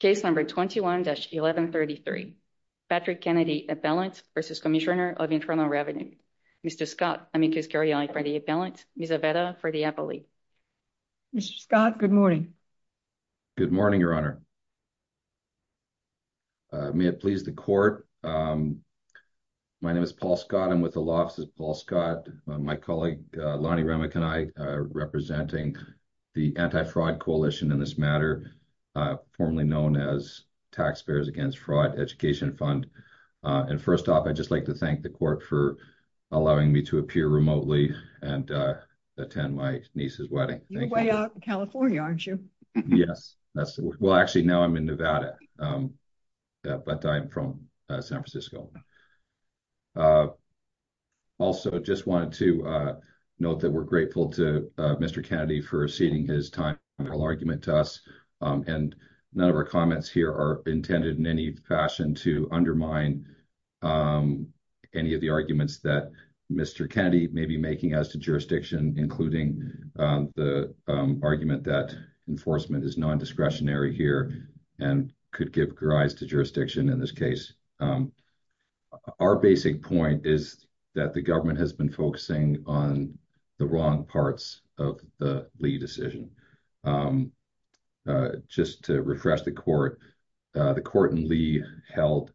Case number 21-1133. Patrick Kennedy appellant v. Cmsnr of Internal Revenue. Mr. Scott, I make this carry-on for the appellant. Ms. Aveda for the appellee. Mr. Scott, good morning. Good morning, Your Honor. May it please the Court. My name is Paul Scott. I'm with the Law Office of Paul Scott. My colleague Lonnie Remick and I are representing the Anti-Fraud Coalition in this matter. Formerly known as Taxpayers Against Fraud Education Fund. And first off, I'd just like to thank the Court for allowing me to appear remotely and attend my niece's wedding. You're way out in California, aren't you? Yes. Well, actually, now I'm in Nevada, but I'm from San Francisco. Also, just wanted to note that we're grateful to Mr. Kennedy for ceding his time-trial argument to us. And none of our comments here are intended in any fashion to undermine any of the arguments that Mr. Kennedy may be making as to jurisdiction, including the argument that enforcement is non-discretionary here and could give rise to jurisdiction in this case. Our basic point is that the government has been focusing on the wrong parts of the decision. Just to refresh the Court, the Court in Lee held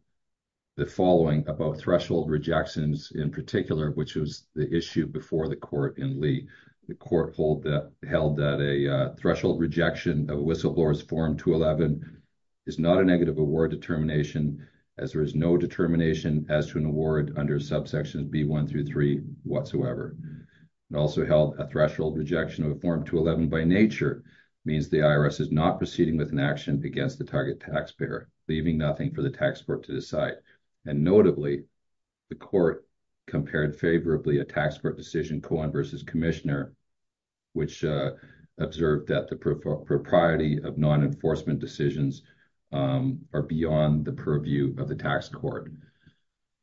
the following about threshold rejections in particular, which was the issue before the Court in Lee. The Court held that a threshold rejection of Whistleblower's Form 211 is not a negative award determination as there is no determination as to an award under subsections B1 through 3 whatsoever. It also held a threshold rejection of Form 211 by nature means the IRS is not proceeding with an action against the target taxpayer, leaving nothing for the tax court to decide. And notably, the Court compared favorably a tax court decision, Cohen v. Commissioner, which observed that the propriety of non-enforcement decisions are beyond the purview of the tax court.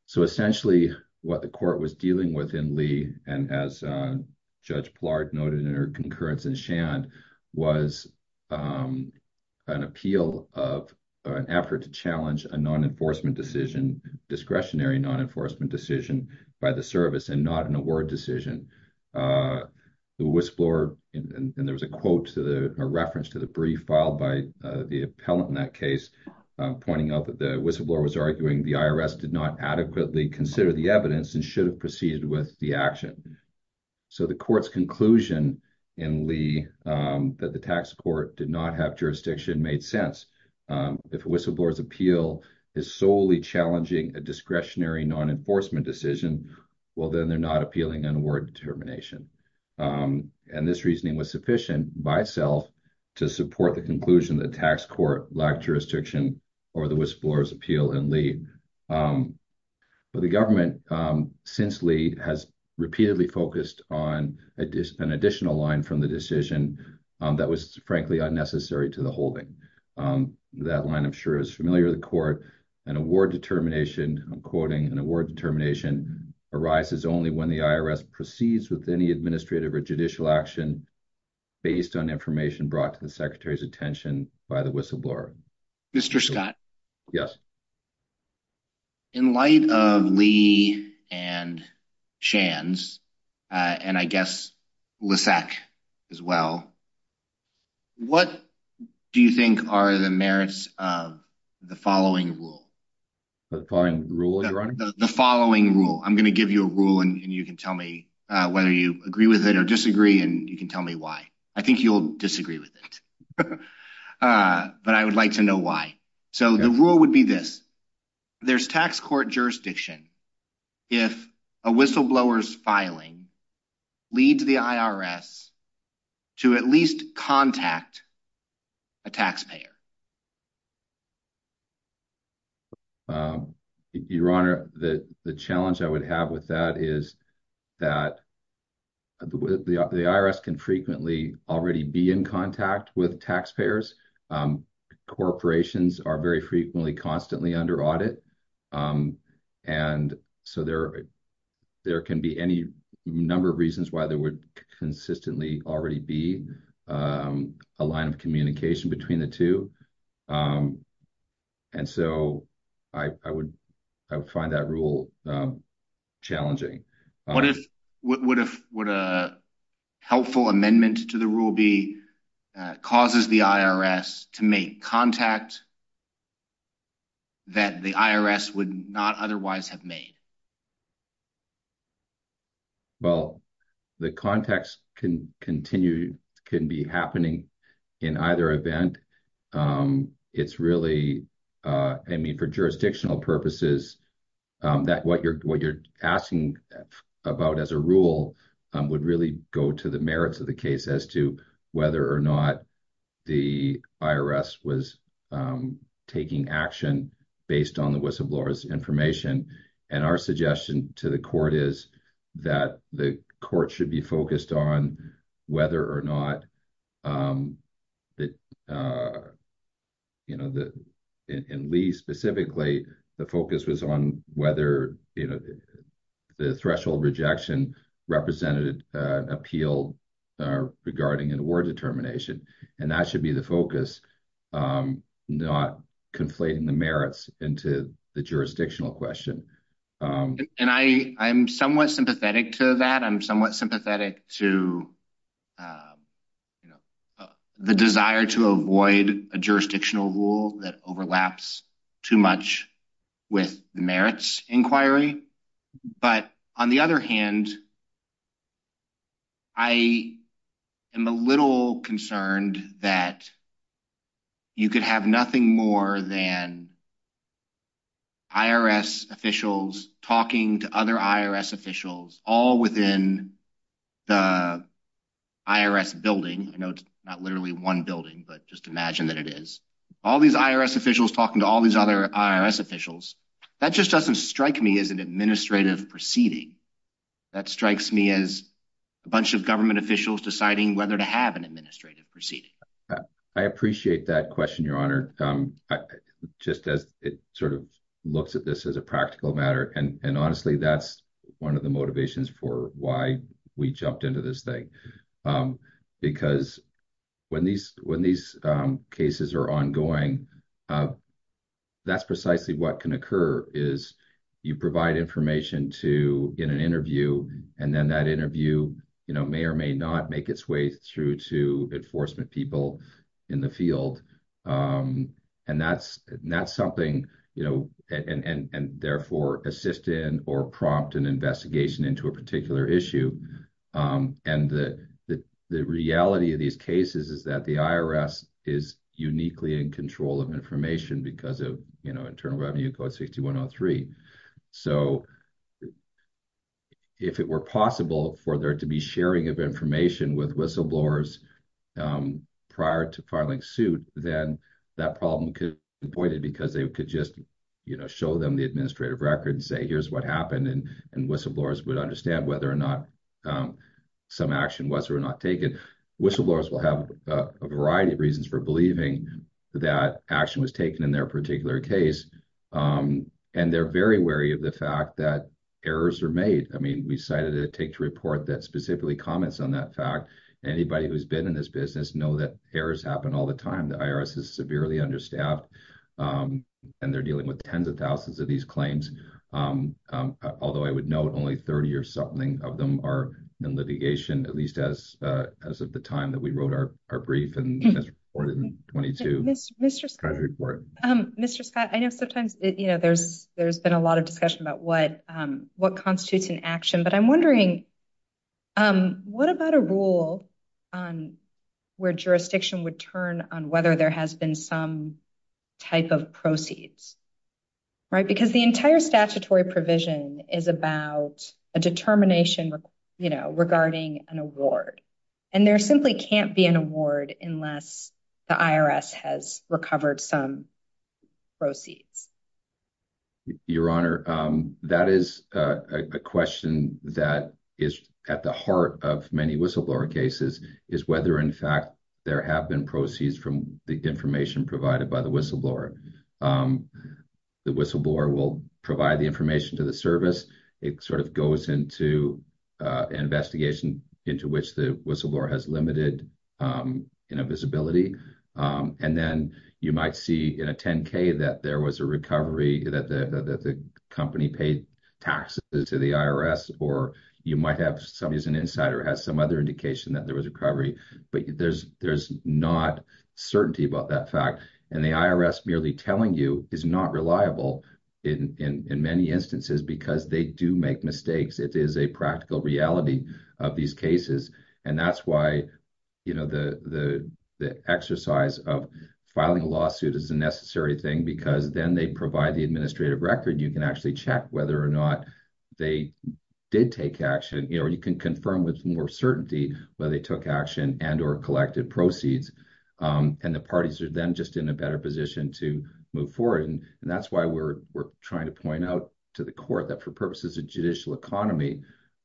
So, essentially, what the Court was dealing with and as Judge Plard noted in her concurrence in Shand, was an appeal of an effort to challenge a non-enforcement decision, discretionary non-enforcement decision, by the service and not an award decision. The Whistleblower, and there was a quote, a reference to the brief filed by the appellant in that case, pointing out that the Whistleblower was arguing the IRS did not adequately consider the evidence and should have proceeded with the action. So, the Court's conclusion in Lee that the tax court did not have jurisdiction made sense. If a Whistleblower's appeal is solely challenging a discretionary non-enforcement decision, well, then they're not appealing an award determination. And this reasoning was sufficient by itself to support the conclusion the tax court lacked jurisdiction or the Whistleblower's appeal in Lee. But the government since Lee has repeatedly focused on an additional line from the decision that was, frankly, unnecessary to the holding. That line, I'm sure, is familiar to the Court. An award determination, I'm quoting, an award determination arises only when the IRS proceeds with any administrative or judicial action based on information brought to the Secretary's attention by the Whistleblower. Mr. Scott? Yes. In light of Lee and Shands, and I guess Lissac as well, what do you think are the merits of the following rule? The following rule, Your Honor? The following rule. I'm going to give you a rule and you can tell me whether you agree with it or disagree and you can tell me why. I think you'll disagree with it, but I would like to know why. So, the rule would be this. There's tax court jurisdiction if a Whistleblower's filing leads the IRS to at least contact a taxpayer. Your Honor, the challenge I would have with that is that the IRS can frequently already be in contact with taxpayers. Corporations are very frequently constantly under audit, and so there can be any number of reasons why there would consistently already be a line of communication between the two. And so, I would find that rule challenging. Would a helpful amendment to the rule be, causes the IRS to make contact that the IRS would not otherwise have made? Well, the contacts can be happening in either event. It's really, I mean, for jurisdictional purposes, that what you're asking about as a rule would really go to the merits of the case as to whether or not the IRS was taking action based on the Whistleblower's information. And our suggestion to the court is that the court should be focused on whether or not, in Lee specifically, the focus was on whether the threshold rejection represented an appeal regarding an award determination. And that should be the focus, not conflating the merits into the jurisdictional question. And I am somewhat sympathetic to that. I'm somewhat sympathetic to the desire to avoid a jurisdictional rule that overlaps too much with the merits inquiry. But on the other hand, I am a little concerned that you could have nothing more than IRS officials talking to other IRS officials all within the IRS building. I know it's not literally one building, but just imagine that it is. All these IRS officials talking to all these other IRS officials, that just doesn't strike me as an administrative proceeding. That strikes me as a bunch of government officials deciding whether to have an administrative proceeding. I appreciate that question, Your Honor. Just as it sort of looks at this as a practical matter, and honestly, that's one of the motivations for why we jumped into this thing. Because when these cases are ongoing, that's precisely what can occur is you provide information in an interview, and then that interview may or may not be the case. And that's something, and therefore assist in or prompt an investigation into a particular issue. And the reality of these cases is that the IRS is uniquely in control of information because of Internal Revenue Code 6103. So if it were possible for there to be sharing of whistleblowers prior to filing suit, then that problem could be avoided because they could just show them the administrative record and say, here's what happened. And whistleblowers would understand whether or not some action was or not taken. Whistleblowers will have a variety of reasons for believing that action was taken in their particular case. And they're very wary of the fact that errors are made. I mean, we cited a take to report that specifically comments on that fact. Anybody who's been in this business know that errors happen all the time. The IRS is severely understaffed, and they're dealing with tens of thousands of these claims. Although I would note only 30 or something of them are in litigation, at least as of the time that we wrote our brief and this report in 22. Mr. Scott, I know sometimes, you know, there's been a lot of discussion about what constitutes an action. But I'm wondering, what about a rule on where jurisdiction would turn on whether there has been some type of proceeds? Right, because the entire statutory provision is about a determination, you know, regarding an award. And there simply can't be an award unless the IRS has recovered some proceeds. Your Honor, that is a question that is at the heart of many whistleblower cases, is whether in fact there have been proceeds from the information provided by the whistleblower. The whistleblower will provide the information to the service. It sort of goes into an investigation into which the whistleblower has limited, you know, visibility. And then you might see in a 10-K that there was a recovery, that the company paid taxes to the IRS, or you might have somebody as an insider has some other indication that there was a recovery. But there's not certainty about that fact. And the IRS merely telling you is not reliable in many instances because they do make mistakes. It is a practical reality of these cases. And that's why, you know, the exercise of filing a lawsuit is a necessary thing because then they provide the administrative record. You can actually check whether or not they did take action, you know, or you can confirm with more certainty whether they took action and or collected proceeds. And the parties are then just in a better position to move forward. And that's why we're trying to point out to the court that for purposes of judicial economy,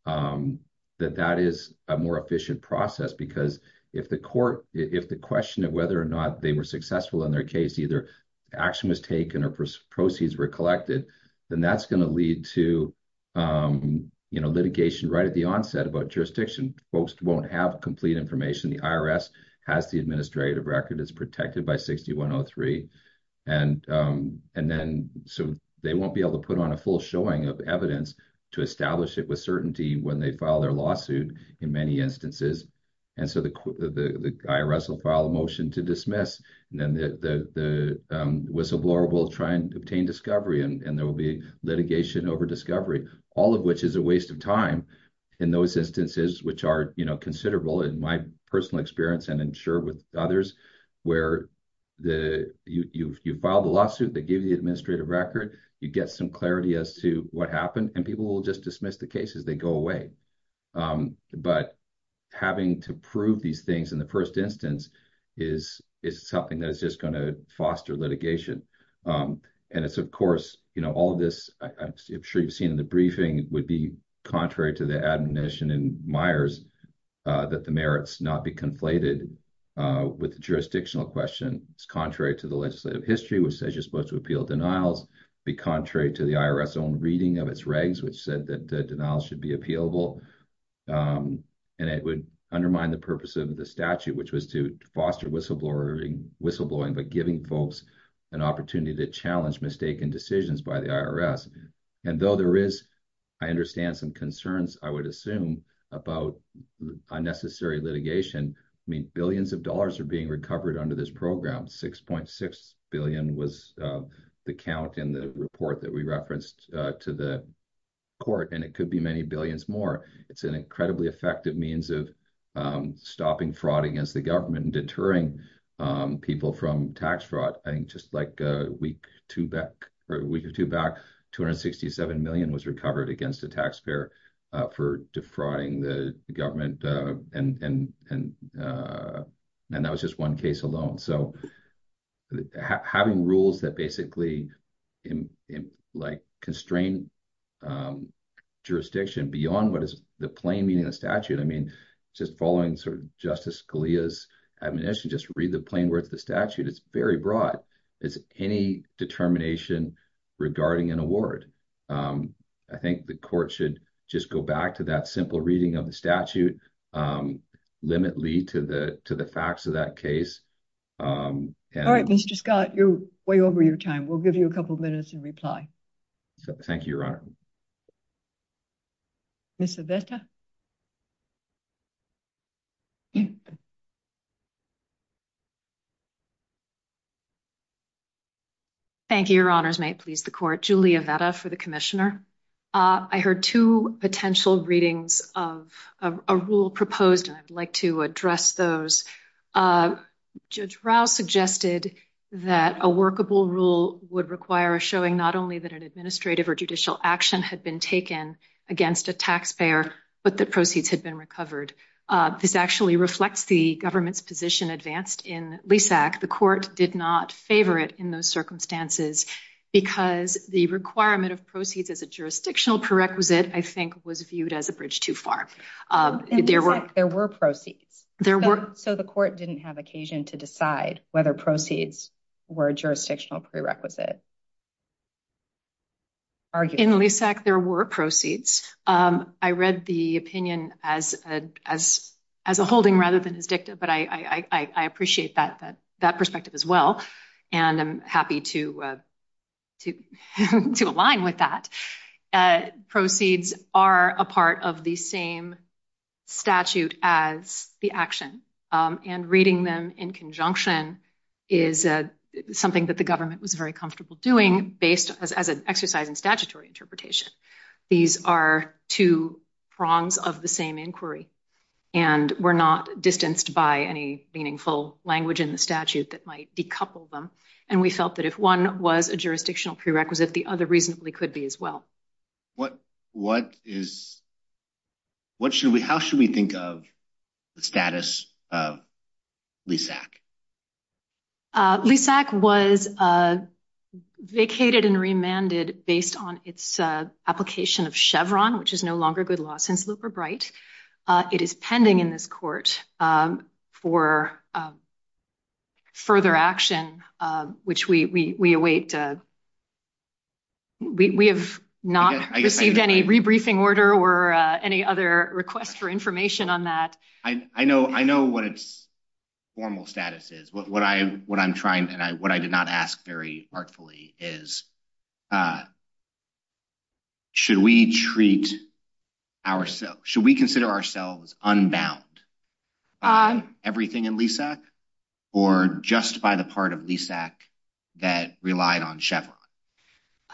that that is a more efficient process. Because if the court, if the question of whether or not they were successful in their case, either action was taken or proceeds were collected, then that's going to lead to, you know, litigation right at the onset about jurisdiction. Folks won't have complete information. The IRS has the administrative record. It's protected by 6103. And then so they won't be able to put on a full showing of evidence to establish it with certainty when they file their lawsuit in many instances. And so the IRS will file a motion to dismiss. And then the whistleblower will try and obtain discovery. And there will be litigation over discovery, all of which is a waste of time in those instances, which are, you know, considerable in my personal experience and I'm sure with others, where you file the lawsuit, they give you the administrative record, you get some clarity as to what happened and people will just dismiss the case as they go away. But having to prove these things in the first instance is something that is just going to foster litigation. And it's of course, you know, all of this, I'm sure you've seen in the briefing would be contrary to the admonition in Myers that the merits not be conflated with the jurisdictional question. It's contrary to the legislative history, which says you're to appeal denials be contrary to the IRS own reading of its regs, which said that denials should be appealable. And it would undermine the purpose of the statute, which was to foster whistleblowing, but giving folks an opportunity to challenge mistaken decisions by the IRS. And though there is, I understand some concerns, I would assume about unnecessary litigation. I mean, billions of dollars are being recovered under this program. 6.6 billion was the count in the report that we referenced to the court, and it could be many billions more. It's an incredibly effective means of stopping fraud against the government and deterring people from tax fraud. I think just like a week or two back, 267 million was recovered against a taxpayer for defrauding the government. And that was just one case alone. So having rules that basically constrain jurisdiction beyond what is the plain meaning of the statute, I mean, just following sort of Justice Scalia's admonition, just read the plain words of the statute. It's very broad. It's any determination regarding an award. I think the court should just go back to that simple reading of the statute, limit lead to the facts of that case. All right, Mr. Scott, you're way over your time. We'll give you a couple minutes in reply. Thank you, Your Honor. Ms. Avetta? Thank you, Your Honors. May it please the court. Julia Avetta for the Commissioner. I heard two potential readings of a rule proposed, and I'd like to address those. Judge Rao suggested that a workable rule would require a showing not only that an administrative or judicial action had been taken against a taxpayer, but that proceeds had been recovered. This actually reflects the government's position advanced in LESAC. The court did not favor it in those circumstances because the requirement of proceeds as a jurisdictional prerequisite, I think, was viewed as a bridge too far. In LESAC, there were proceeds. So the court didn't have occasion to decide whether proceeds were a jurisdictional prerequisite. In LESAC, there were proceeds. I read the opinion as a holding rather than as dicta, but I appreciate that perspective as well, and I'm happy to align with that. Proceeds are a part of the same statute as the action, and reading them in conjunction is something that the government was very comfortable doing based as an exercise in statutory interpretation. These are two prongs of the same inquiry and were not distanced by any meaningful language in the statute that might decouple them, and we felt that if one was a jurisdictional prerequisite, the other reasonably could be as well. How should we think of the status of LESAC? LESAC was vacated and remanded based on its application of Chevron, which is no longer in effect. Should we consider ourselves unbound by everything in LESAC or just by the part of that relied on Chevron?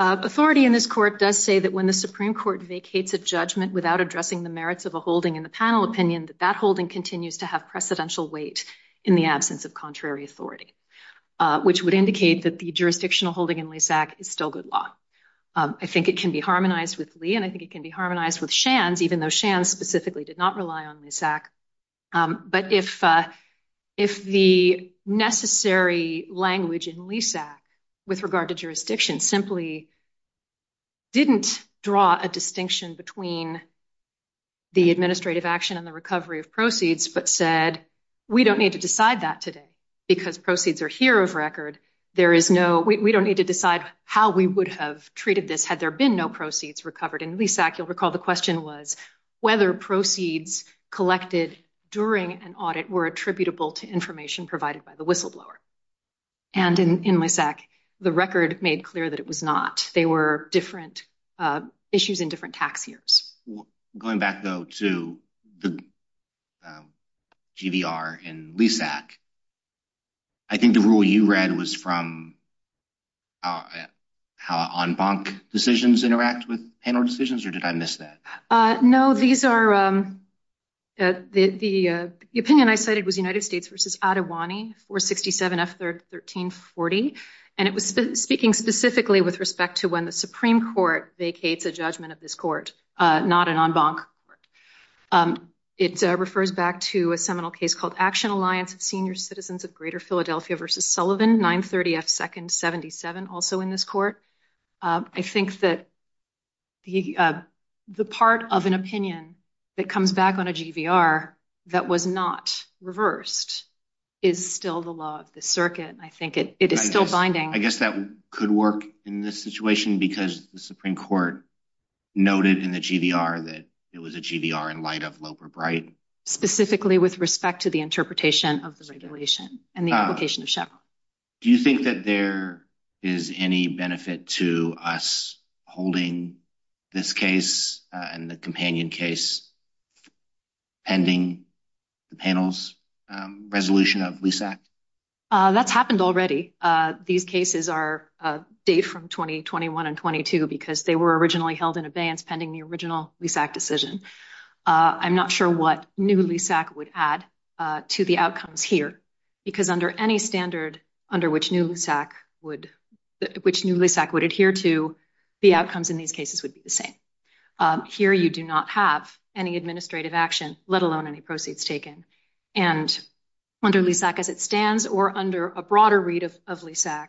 Authority in this court does say that when the Supreme Court vacates a judgment without addressing the merits of a holding in the panel opinion, that that holding continues to have precedential weight in the absence of contrary authority, which would indicate that the jurisdictional holding in LESAC is still good law. I think it can be harmonized with Lee, and I think it can be harmonized with Shands, even though Shands specifically did not rely on LESAC, but if the necessary language in LESAC with regard to jurisdiction simply didn't draw a distinction between the administrative action and the recovery of proceeds but said, we don't need to decide that today because proceeds are here of record. We don't need to decide how we would have treated this had there been no proceeds recovered. In LESAC, you'll recall the question was whether proceeds collected during an audit were attributable to information provided by the whistleblower, and in LESAC, the record made clear that it was not. They were different issues in different tax years. Going back though to the GVR in LESAC, I think the rule you read was from how en banc decisions interact with panel decisions, or did I miss that? No, the opinion I cited was United States versus Adewani, 467 F 1340, and it was speaking specifically with respect to when the Supreme Court vacates a judgment of this court, not an en banc. It refers back to a seminal case called Action Alliance of Senior Citizens of Philadelphia versus Sullivan, 930 F 2nd 77, also in this court. I think that the part of an opinion that comes back on a GVR that was not reversed is still the law of the circuit, and I think it is still binding. I guess that could work in this situation because the Supreme Court noted in the GVR that it was a GVR in light of Loeb or Bright. Specifically with respect to the interpretation of the regulation and the application of Chevron. Do you think that there is any benefit to us holding this case and the companion case pending the panel's resolution of LESAC? That's happened already. These cases are a date from 2021 and 22 because they were originally held in abeyance pending the original LESAC decision. I'm not sure what new LESAC would add to the outcomes here because under any standard under which new LESAC would adhere to, the outcomes in these cases would be the same. Here you do not have any administrative action, let alone any proceeds taken, and under LESAC as it stands or under a broader read of LESAC,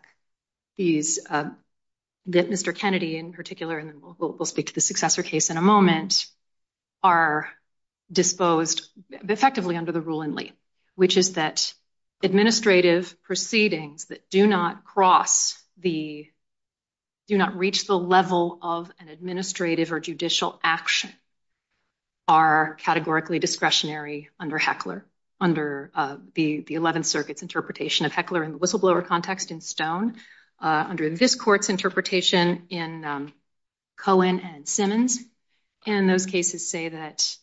that Mr. Kennedy in particular, and we'll speak to the successor case in a moment, are disposed effectively under the rule in Lee, which is that administrative proceedings that do not cross the, do not reach the level of an administrative or judicial action are categorically discretionary under Heckler, under the 11th Circuit's interpretation of Heckler in the whistleblower context in Stone, under this court's interpretation in Cohen and Simmons, and those cases say that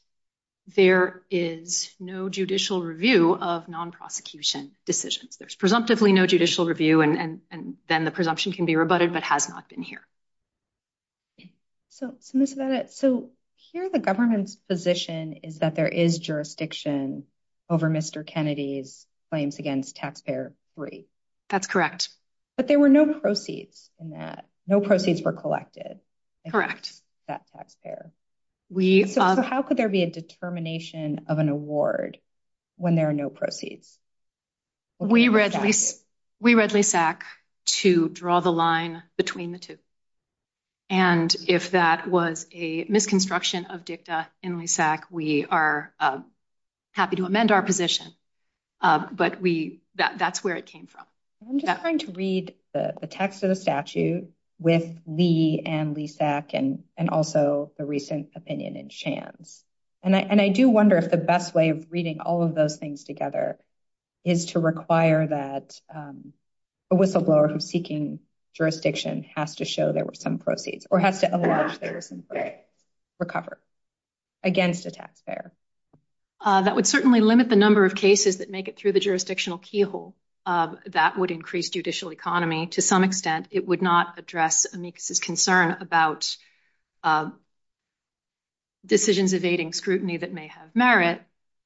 there is no judicial review of non-prosecution decisions. There's presumptively no judicial review and then the presumption can be rebutted, but has not been here. So here the government's position is that there is jurisdiction over Mr. Kennedy's claims against taxpayer free. That's correct. But there were no proceeds in that. No proceeds were collected. Correct. That taxpayer. So how could there be a determination of an award when there are no proceeds? We read LESAC to draw the line between the two, and if that was a misconstruction of dicta in LESAC, we are happy to amend our position, but that's where it came from. I'm just trying to read the text of the statute with Lee and LESAC and also the recent opinion in Shands, and I do wonder if the best way of reading all of those things together is to require that a whistleblower who's seeking jurisdiction has to show there were some proceeds or has to recover against a taxpayer. That would certainly limit the number of cases that make it through jurisdictional keyhole. That would increase judicial economy to some extent. It would not address amicus's concern about decisions evading scrutiny that may have merit,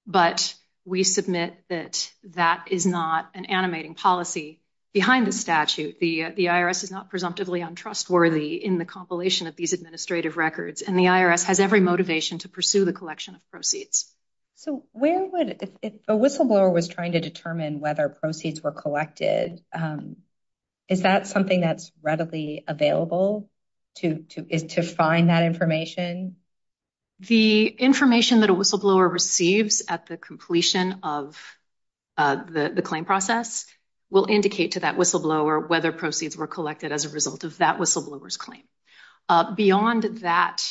but we submit that that is not an animating policy behind the statute. The IRS is not presumptively untrustworthy in the compilation of these administrative records, and the IRS has every motivation to collection of proceeds. So where would, if a whistleblower was trying to determine whether proceeds were collected, is that something that's readily available to find that information? The information that a whistleblower receives at the completion of the claim process will indicate to that whistleblower whether proceeds were collected as a result of that whistleblower's Beyond that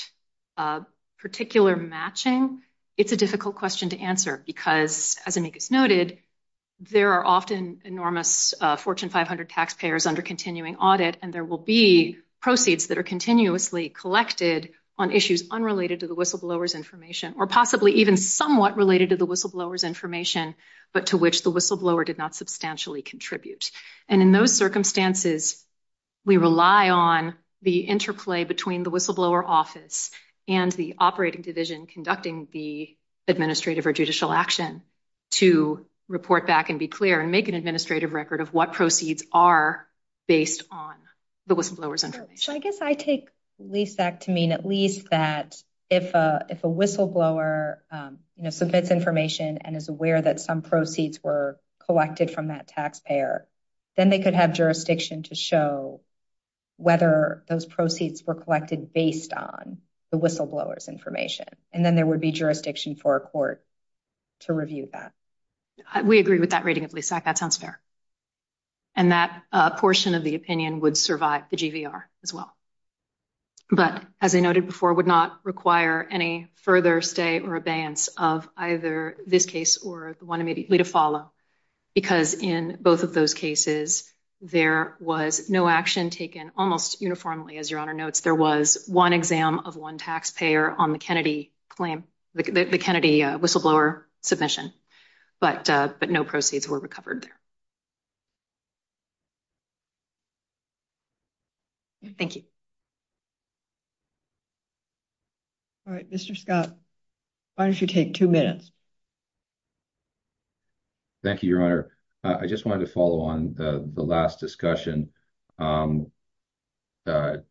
particular matching, it's a difficult question to answer because, as amicus noted, there are often enormous Fortune 500 taxpayers under continuing audit, and there will be proceeds that are continuously collected on issues unrelated to the whistleblower's information, or possibly even somewhat related to the whistleblower's information, but to which the whistleblower did not substantially contribute. And in those circumstances, we rely on the interplay between the whistleblower office and the operating division conducting the administrative or judicial action to report back and be clear and make an administrative record of what proceeds are based on the whistleblower's information. So I guess I take Lisa to mean at least that if a whistleblower, you know, submits information and is aware that some proceeds were collected from that taxpayer, then they could have jurisdiction to show whether those proceeds were collected based on the whistleblower's information, and then there would be jurisdiction for a court to review that. We agree with that rating of LISAC. That sounds fair. And that portion of the opinion would survive the GVR as well. But as I noted before, would not require any further stay or abeyance of either this case or the one immediately to follow, because in both of those cases, there was no action taken almost uniformly, as Your Honor notes. There was one exam of one taxpayer on the Kennedy claim, the Kennedy whistleblower submission, but no proceeds were recovered there. Thank you. All right, Mr. Scott, why don't you take two minutes? Thank you, Your Honor. I just wanted to follow on the last discussion. The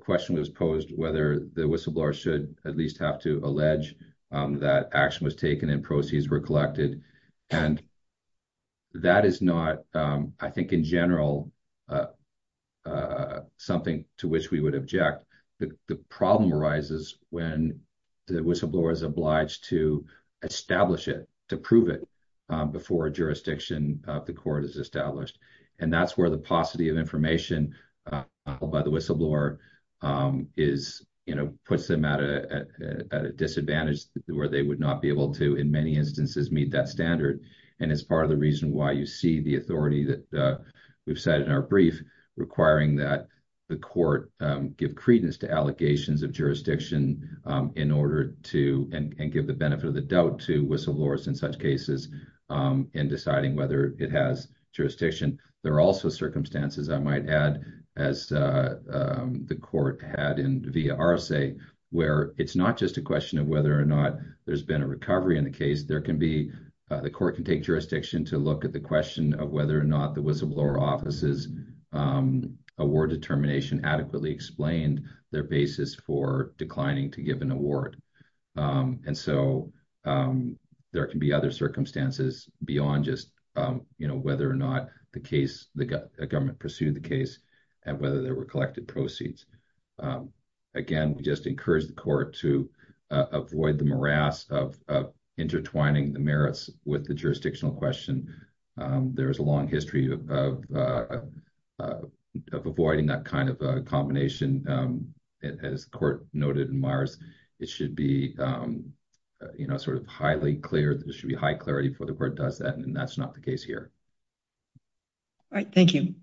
question was posed whether the whistleblower should at least have to allege that action was taken and proceeds were collected, and that is not, I think, in general a something to which we would object. The problem arises when the whistleblower is obliged to establish it, to prove it before a jurisdiction of the court is established. And that's where the paucity of information filed by the whistleblower puts them at a disadvantage where they would not be able to, in many instances, meet that standard. And it's part of the reason why you see the authority that we've cited in our brief requiring that the court give credence to allegations of jurisdiction in order to, and give the benefit of the doubt to, whistleblowers in such cases in deciding whether it has jurisdiction. There are also circumstances, I might add, as the court had in via RSA, where it's not just a question of whether or not there's a recovery in the case. There can be, the court can take jurisdiction to look at the question of whether or not the whistleblower office's award determination adequately explained their basis for declining to give an award. And so, there can be other circumstances beyond just, you know, whether or not the case, the government pursued the case, and whether there were collected proceeds. Again, we just encourage the court to avoid the morass of intertwining the merits with the jurisdictional question. There is a long history of avoiding that kind of a combination. As the court noted in Myers, it should be, you know, sort of highly clear, there should be high clarity before the court does that, and that's not the case here. All right, thank you.